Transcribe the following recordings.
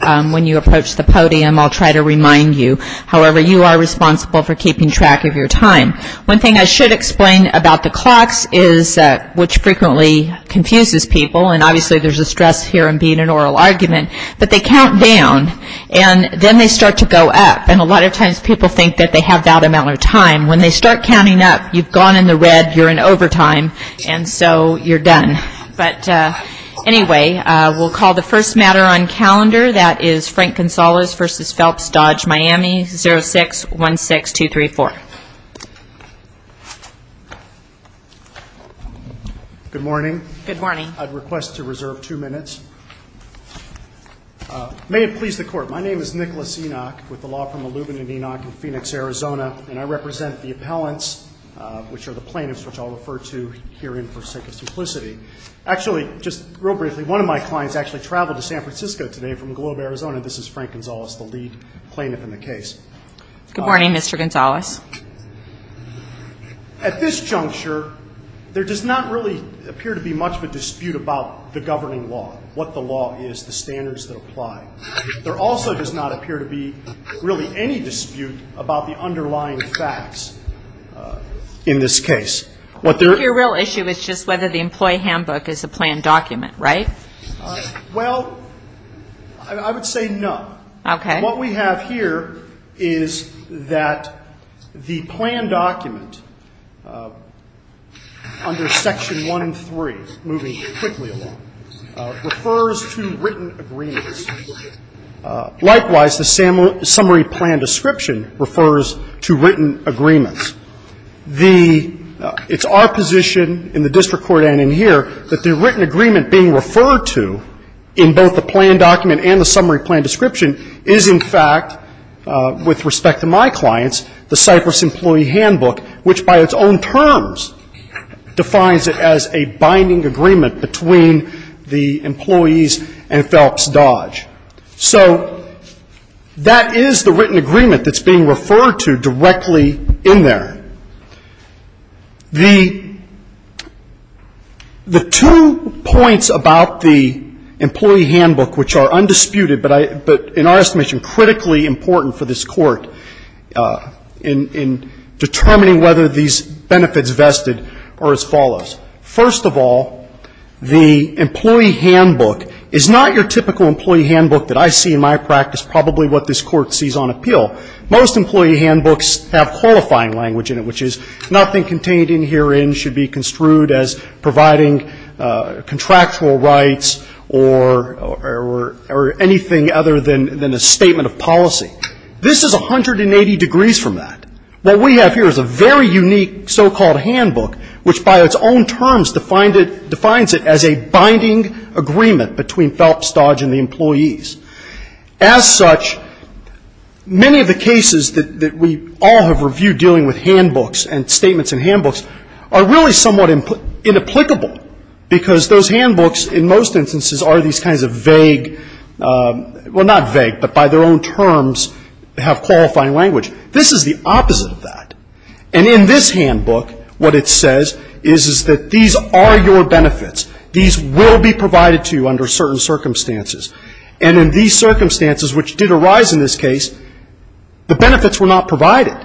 When you approach the podium I'll try to remind you, however, you are responsible for keeping track of your time. One thing I should explain about the clocks is, which frequently confuses people and obviously there's a stress here in being an oral argument, but they count down and then they start to go up and a lot of times people think that they have that amount of time. When they start counting up you've gone in the red, you're in overtime and so you're done. But anyway, we'll call the first matter on calendar, that is Frank Gonzalez v. Phelps Dodge Miami 0616234 Good morning. Good morning. I'd request to reserve two minutes. May it please the court, my name is Nicholas Enoch with the law firm Illumina Enoch in Phoenix, Arizona, and I represent the appellants, which are the plaintiffs which I'll refer to herein for sake of simplicity. Actually, just real briefly, one of my clients actually traveled to San Francisco today from Globe, Arizona. This is Frank Gonzalez, the lead plaintiff in the case. Good morning, Mr. Gonzalez. At this juncture there does not really appear to be much of a dispute about the governing law, what the law is, the standards that apply. There also does not appear to be really any dispute about the underlying facts in this case. Your real issue is just whether the employee handbook is a planned document, right? Well, I would say no. Okay. What we have here is that the planned document under Section 1.3, moving quickly now, refers to written agreements. Likewise, the summary plan description refers to written agreements. The ‑‑ it's our position in the district court and in here that the written agreement being referred to in both the planned document and the summary plan description is, in fact, with respect to my clients, the Cypress employee handbook, which by its own terms defines it as a binding agreement between the employees and Phelps Dodge. So that is the written agreement that's being referred to directly in there. The two points about the employee handbook which are undisputed, but in our estimation important for this Court in determining whether these benefits vested are as follows. First of all, the employee handbook is not your typical employee handbook that I see in my practice probably what this Court sees on appeal. Most employee handbooks have qualifying language in it, which is nothing contained in herein should be construed as providing contractual rights or anything other than a statement of policy. This is 180 degrees from that. What we have here is a very unique so‑called handbook, which by its own terms defines it as a binding agreement between Phelps Dodge and the employees. As such, many of the cases that we all have reviewed dealing with handbooks and statements and handbooks are really somewhat inapplicable because those handbooks in most instances are these kinds of vague, well, not vague, but by their own terms have qualifying language. This is the opposite of that. And in this handbook, what it says is that these are your benefits. These will be provided to you under certain circumstances. And in these circumstances which did arise in this case, the benefits were not provided.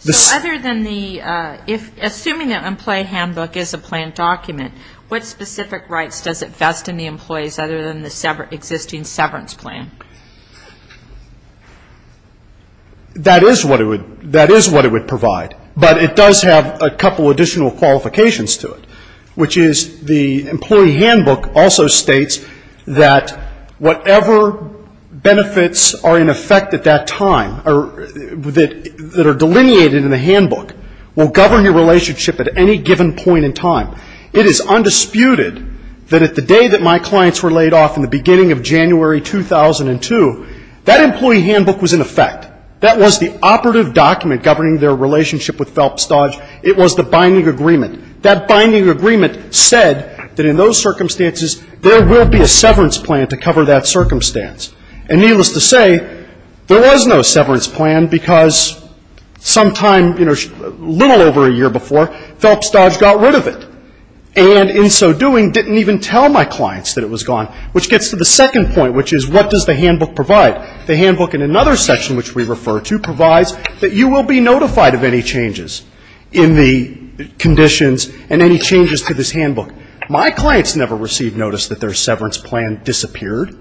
So other than the ‑‑ assuming the employee handbook is a plan document, what specific rights does it vest in the employees other than the existing severance plan? That is what it would provide. But it does have a couple additional qualifications to it, which is the employee handbook also states that whatever benefits are in effect at that time or that are delineated in the handbook will govern your relationship at any given point in time. It is undisputed that at the day that my clients were laid off in the beginning of January 2002, that employee handbook was in effect. That was the operative document governing their relationship with Phelps Dodge. It was the binding agreement. That binding agreement said that in those circumstances there will be a severance plan to cover that circumstance. And needless to say, there was no severance plan because sometime, you know, a little over a year before, Phelps Dodge got rid of it and in so doing didn't even tell my clients that it was gone, which gets to the second point, which is what does the handbook provide? The handbook in another section which we refer to provides that you will be notified of any changes in the conditions and any changes to this handbook. My clients never received notice that their severance plan disappeared.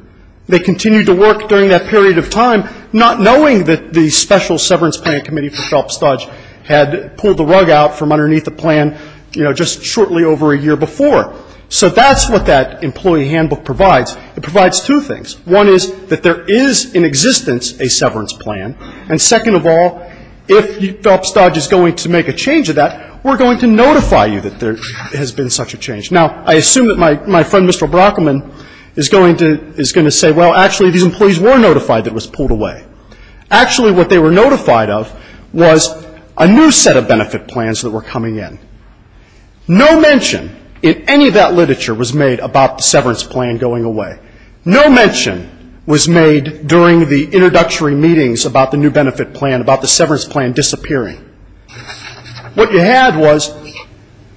They continued to work during that period of time not knowing that the special severance payment committee for Phelps Dodge had pulled the rug out from underneath the plan, you know, just shortly over a year before. So that's what that employee handbook provides. It provides two things. One is that there is in existence a severance plan. And second of all, if Phelps Dodge is going to make a change to that, we're going to notify you that there has been such a change. Now, I assume that my friend Mr. Brockman is going to say, well, actually these employees were notified that it was pulled away. Actually, what they were notified of was a new set of benefit plans that were coming in. No mention in any of that literature was made about the severance plan going away. No mention was made during the introductory meetings about the new benefit plan, about the severance plan disappearing. What you had was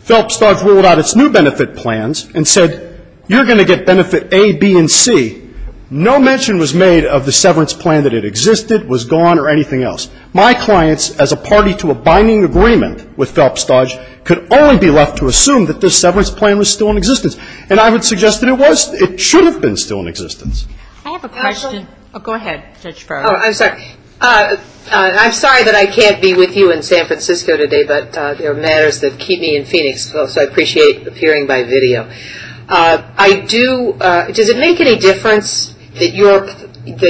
Phelps Dodge ruled out its new benefit plans and said, you're going to get benefit A, B, and C. No mention was made of the severance plan that it existed, was gone, or anything else. My clients, as a party to a binding agreement with Phelps Dodge, could only be left to assume that this severance plan was still in existence. And I would suggest that it was. It should have been still in existence. MS. GOTTLIEB I have a question. MS. GOTTLIEB Oh, go ahead, Judge Farr. MS. GOTTLIEB Oh, I'm sorry. I'm sorry that I can't be with you in San Francisco today, but there are matters that keep me in Phoenix, so I appreciate appearing by video. I do, does it make any difference that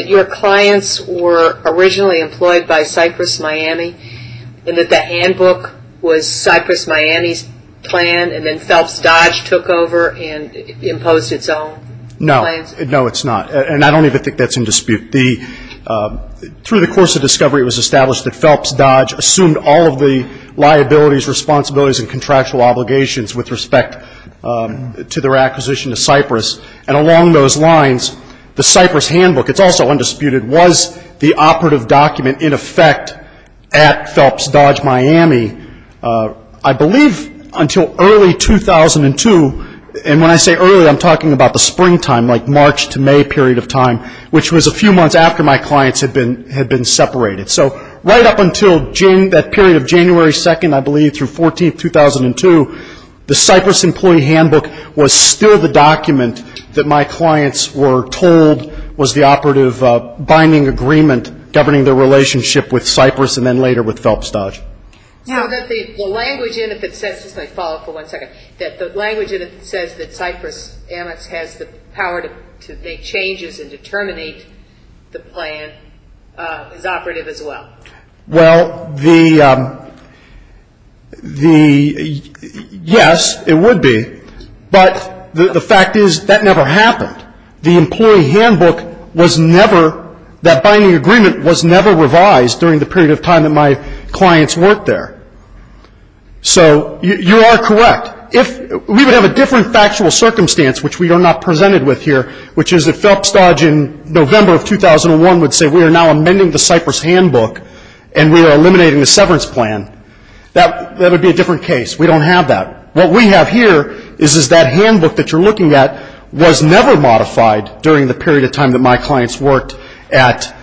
your clients were originally employed by Cypress Miami and that the handbook was Cypress Miami's plan and then Phelps Dodge took over and imposed its own plans? No, it's not. And I don't even think that's in dispute. Through the course of discovery, it was established that Phelps Dodge assumed all of the liabilities, responsibilities, and contractual obligations with respect to their acquisition of Cypress. And along those lines, the Cypress handbook, it's also undisputed, was the operative document in effect at Phelps Dodge Miami, I believe, until early 2002. And when I say early, I'm talking about the March to May period of time, which was a few months after my clients had been separated. So right up until that period of January 2nd, I believe, through 14th, 2002, the Cypress employee handbook was still the document that my clients were told was the operative binding agreement governing their relationship with Cypress and then later with Phelps Dodge. So that the language in it that says, just let me follow up for one second, that the changes in determining the plan is operative as well? Well, the, yes, it would be. But the fact is, that never happened. The employee handbook was never, that binding agreement was never revised during the period of time that my clients worked there. So you are correct. We would have a different factual circumstance, which we are not presented with here, which is that Phelps Dodge in November of 2001 would say, we are now amending the Cypress handbook and we are eliminating the severance plan. That would be a different case. We don't have that. What we have here is that handbook that you're looking at was never modified during the period of time that my clients worked at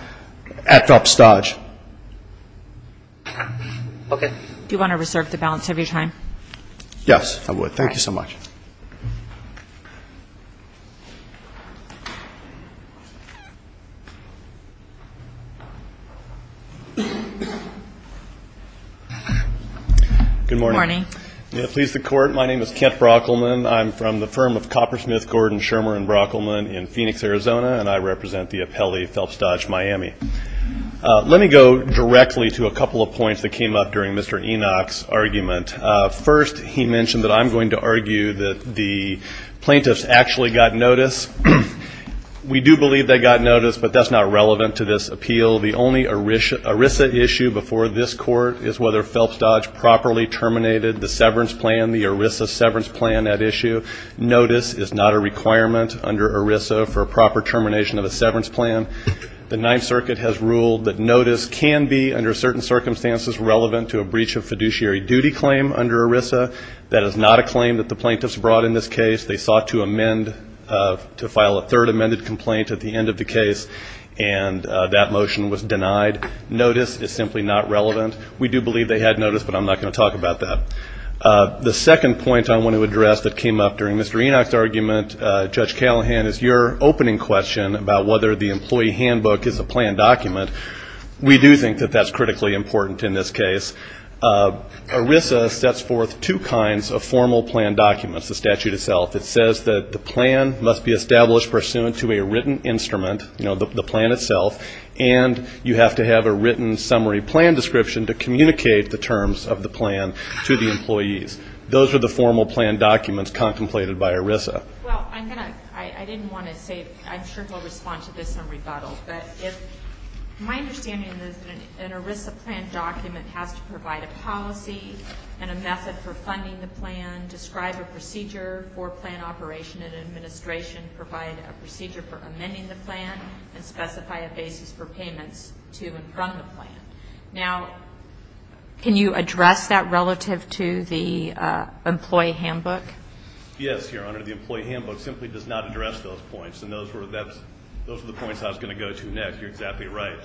Phelps Dodge. Okay. Do you want to reserve the balance of your time? Yes, I would. Thank you so much. Thank you. Good morning. Good morning. May it please the Court, my name is Kent Brockleman. I'm from the firm of Coppersmith Gordon Shermer and Brockleman in Phoenix, Arizona, and I represent the appellee Phelps Dodge, Miami. Let me go directly to a couple of points that came up during Mr. Enoch's argument. First, he mentioned that I'm going to argue that the plaintiffs actually got notice. We do believe they got notice, but that's not relevant to this appeal. The only ERISA issue before this Court is whether Phelps Dodge properly terminated the severance plan, the ERISA severance plan at issue. Notice is not a requirement under ERISA for a proper termination of a severance plan. The Ninth Circuit has ruled that notice can be, under certain circumstances, relevant to a breach of fiduciary duty claim under ERISA. That is not a claim that the plaintiffs brought in this case. They sought to amend, to file a third amended complaint at the end of the case, and that motion was denied. Notice is simply not relevant. We do believe they had notice, but I'm not going to talk about that. The second point I want to address that came up during Mr. Enoch's argument, Judge Callahan, is your opening question about whether the employee handbook is a planned document. We do think that that's critically important in this case. ERISA sets forth two kinds of formal plan documents, the statute itself. It says that the plan must be established pursuant to a written instrument, you know, the plan itself, and you have to have a written summary plan description to communicate the terms of the plan to the employees. Those are the formal plan documents contemplated by ERISA. Well, I didn't want to say, I'm sure he'll respond to this in rebuttal, but my understanding is that an ERISA plan document has to provide a policy and a method for funding the plan, describe a procedure for plan operation and administration, provide a procedure for amending the plan, and specify a basis for payments to and from the plan. Now, can you address that relative to the employee handbook? Yes, Your Honor. The employee handbook simply does not address those points, and those were the points I was going to go to, Nick. You're exactly right.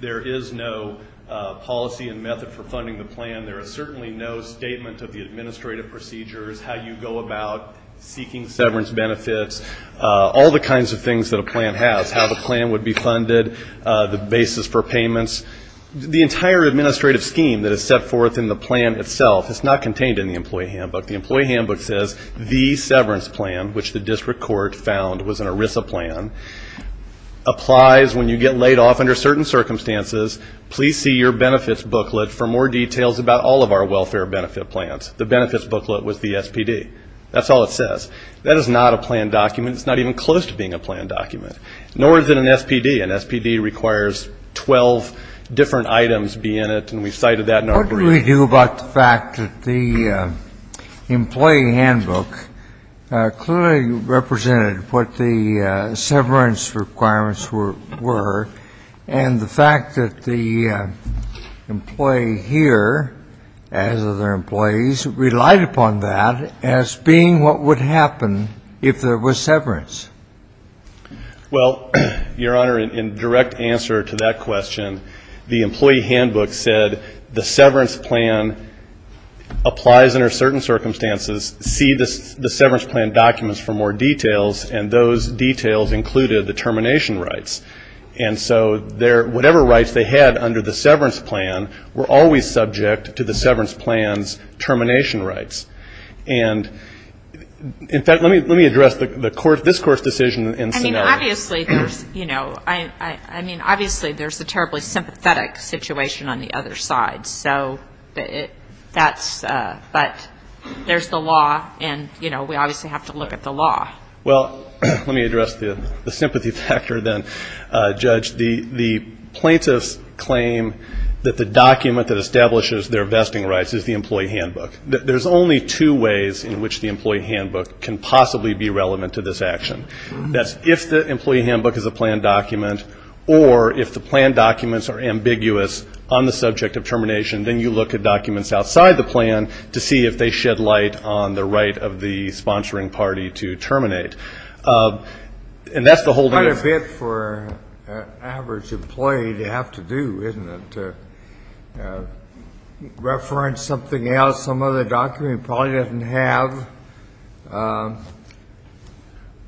There is no policy and method for funding the plan. There is certainly no statement of the administrative procedures, how you go about seeking severance benefits, all the kinds of things that a plan has, how the plan would be funded, the basis for payments. The entire administrative scheme that is set forth in the plan itself is not contained in the employee handbook. The employee handbook says the severance plan, which the district court found was an ERISA plan, applies when you get laid off under certain circumstances. Please see your benefits booklet for more details about all of our welfare benefit plans. The benefits booklet was the SPD. That's all it says. That is not a plan document. It's not even close to being a plan document, nor is it an SPD. An SPD requires 12 different items be in it, and we've cited that in our brief. What do we do about the fact that the employee handbook clearly represented what the severance requirements were, and the fact that the employee here, as other employees, relied upon that as being what would happen if there was severance? Well, Your Honor, in direct answer to that question, the employee handbook said the severance plan applies under certain circumstances. See the severance plan documents for more details, and those details included the termination rights. And so whatever rights they had under the severance plan were always subject to the severance plan's termination rights. And in fact, let me address this Court's decision in scenario. Obviously, there's, you know, I mean, obviously there's a terribly sympathetic situation on the other side. So that's, but there's the law, and, you know, we obviously have to look at the law. Well, let me address the sympathy factor then, Judge. The plaintiffs claim that the document that establishes their vesting rights is the employee handbook. There's only two ways in which the employee handbook can possibly be relevant to this action. That's if the employee handbook is a planned document, or if the planned documents are ambiguous on the subject of termination, then you look at documents outside the plan to see if they shed light on the right of the sponsoring party to terminate. And that's the whole thing. Quite a bit for an average employee to have to do, isn't it, to reference something else, some other document he probably doesn't have?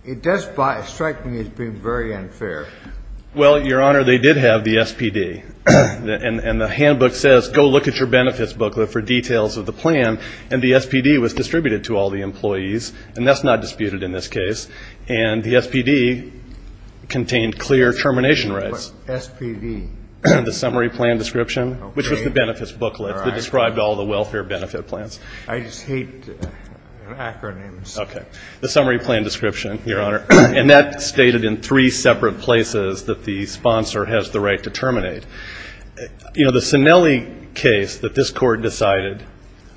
It does strike me as being very unfair. Well, Your Honor, they did have the SPD. And the handbook says, go look at your benefits booklet for details of the plan. And the SPD was distributed to all the employees, and that's not disputed in this case. And the SPD contained clear termination rights. SPD. The summary plan description, which was the benefits booklet that described all the welfare benefit plans. I just hate acronyms. Okay. The summary plan description, Your Honor. And that's stated in three separate places that the sponsor has the right to terminate. You know, the Sinelli case that this Court decided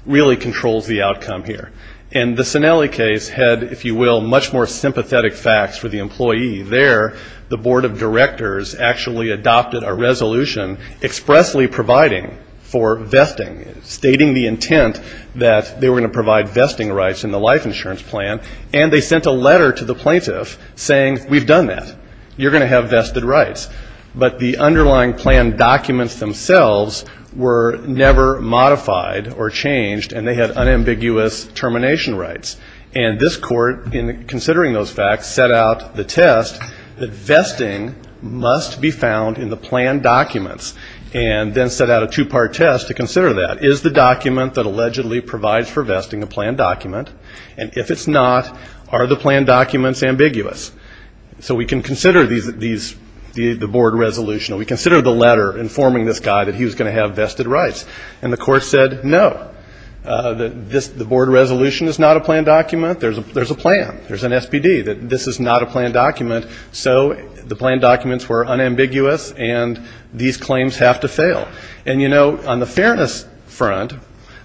really controls the outcome here. And the Sinelli case had, if you will, much more sympathetic facts for the employee. There, the Board of Directors actually adopted a resolution expressly providing for vesting, stating the intent that they were going to provide vesting rights in the life insurance plan. And they sent a letter to the plaintiff saying, we've done that. You're going to have vested rights. But the underlying plan documents themselves were never modified or changed, and they had unambiguous termination rights. And this court, in considering those facts, set out the test that vesting must be found in the plan documents and then set out a two-part test to consider that. Is the document that allegedly provides for vesting a plan document? And if it's not, are the plan documents ambiguous? So we can consider these, the board resolution. We consider the letter informing this guy that he was going to have vested rights. And the court said, no, the board resolution is not a plan document. There's a plan. There's an SPD that this is not a plan document. So the plan documents were unambiguous, and these claims have to fail. And, you know, on the fairness front,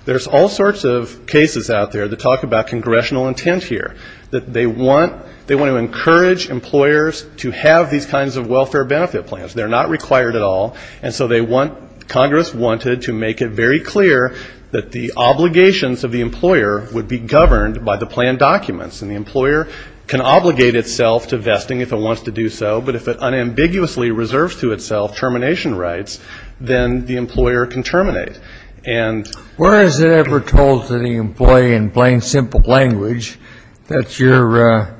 there's all sorts of cases out there that talk about congressional intent here, that they want to encourage employers to have these kinds of welfare benefit plans. They're not required at all. And so they want, Congress wanted to make it very clear that the obligations of the employer would be governed by the plan documents. And the employer can obligate itself to vesting if it wants to do so. But if it unambiguously reserves to itself termination rights, then the employer can terminate. And where is it ever told to the employee in plain, simple language that you're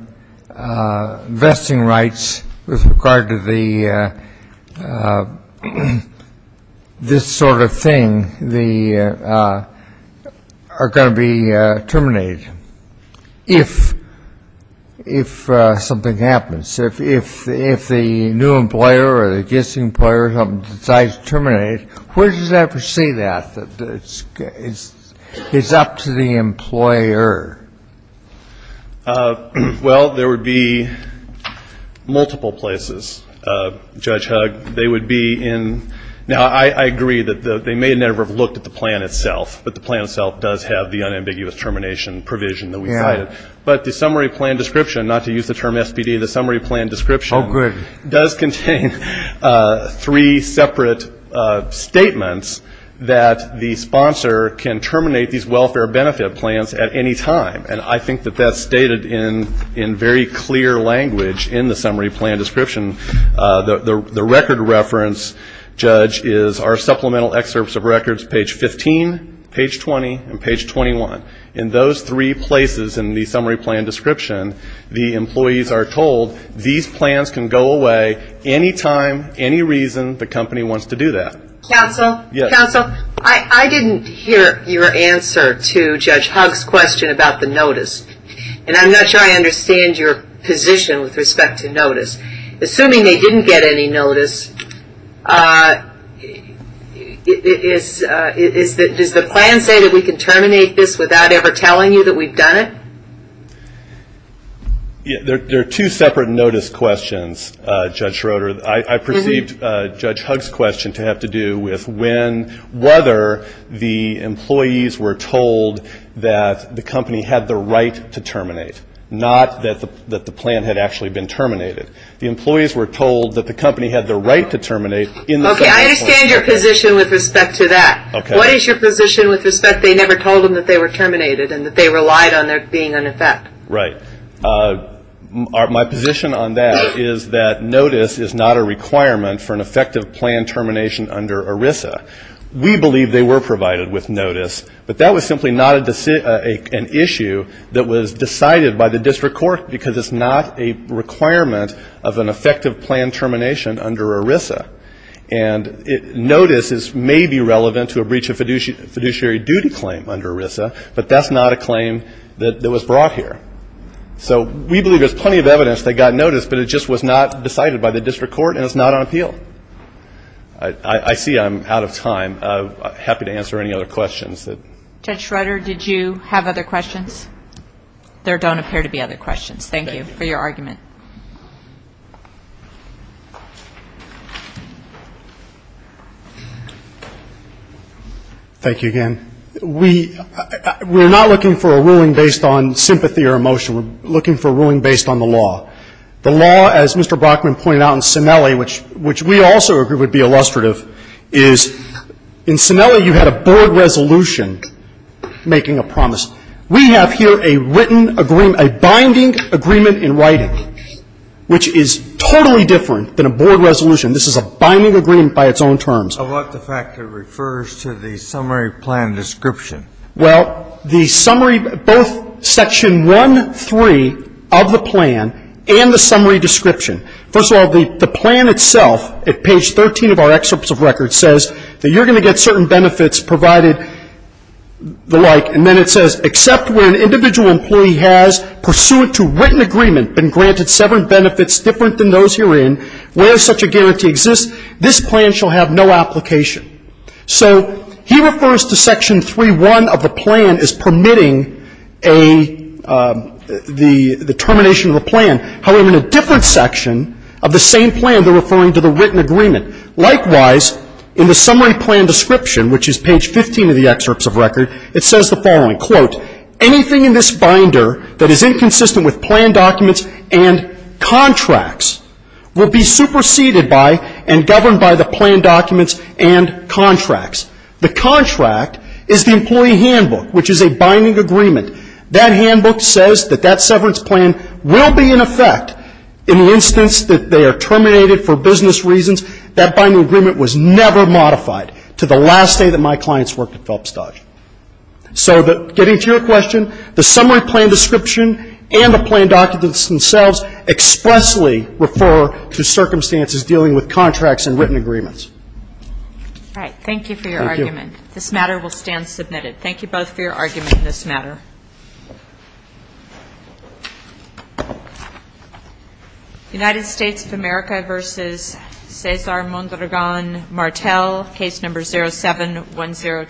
vesting rights with regard to the plan documents? This sort of thing, they are going to be terminated if something happens. If the new employer or the existing employer decides to terminate, where does it ever say that? It's up to the employer. Well, there would be multiple places. Judge Hugg, they would be in, now, I agree that they may never have looked at the plan itself, but the plan itself does have the unambiguous termination provision that we cited. But the summary plan description, not to use the term SPD, the summary plan description does contain three separate statements that the sponsor can terminate these welfare benefit plans at any time. And I think that that's stated in very clear language in the summary plan description. The record reference, Judge, is our supplemental excerpts of records, page 15, page 20, and page 21. In those three places in the summary plan description, the employees are told these plans can go away any time, any reason the company wants to do that. Counsel, I didn't hear your answer to Judge Hugg's question about the notice. And I'm not sure I understand your position with respect to notice. Assuming they didn't get any notice, does the plan say that we can terminate this without ever telling you that we've done it? There are two separate notice questions, Judge Schroeder. I perceived Judge Hugg's question to have to do with when, whether the employees were told that the company had the right to terminate, not that the plan had actually been terminated. The employees were told that the company had the right to terminate in the summary plan. Okay. I understand your position with respect to that. What is your position with respect, they never told them that they were terminated and that they relied on there being an effect? Right. My position on that is that notice is not a requirement for an effective plan termination under ERISA. We believe they were provided with notice, but that was simply not an issue that was decided by the district court because it's not a requirement of an effective plan termination under ERISA. And notice may be relevant to a breach of fiduciary duty claim under ERISA, but that's not a claim that was brought here. So we believe there's plenty of evidence that got notice, but it just was not decided by the district court and it's not on appeal. I see I'm out of time. Happy to answer any other questions. Judge Schroeder, did you have other questions? There don't appear to be other questions. Thank you for your argument. Thank you again. We're not looking for a ruling based on sympathy or emotion. We're looking for a ruling based on the law. The law, as Mr. Brockman pointed out in Sinelli, which we also agree would be illustrative, is in Sinelli you had a board resolution making a promise. We have here a written agreement, a binding agreement in writing, which is totally different than a board resolution. This is a binding agreement by its own terms. I like the fact it refers to the summary plan description. Well, the summary, both Section 1.3 of the plan and the summary description. First of all, the plan itself, at page 13 of our excerpts of records, says that you're going to get certain benefits provided, the like, and then it says, except where an individual employee has, pursuant to written agreement, been granted seven benefits different than those herein, where such a guarantee exists, this plan shall have no application. So he refers to Section 3.1 of the plan as permitting a, the termination of a plan. However, in a different section of the same plan, they're referring to the written agreement. Likewise, in the summary plan description, which is page 15 of the excerpts of record, it says the following, quote, anything in this binder that is inconsistent with plan documents and contracts will be superseded by and governed by the plan documents and contracts. The contract is the employee handbook, which is a binding agreement. That handbook says that that severance plan will be in effect in the instance that they are terminated for business reasons. That binding agreement was never modified to the last day that my clients worked at Phelps Dodge. So getting to your question, the summary plan description and the plan documents themselves expressly refer to circumstances dealing with contracts and written agreements. All right. Thank you for your argument. Thank you. This matter will stand submitted. Thank you both for your argument in this matter. United States of America v. Cesar Mondragon Martel, case number 07-1024.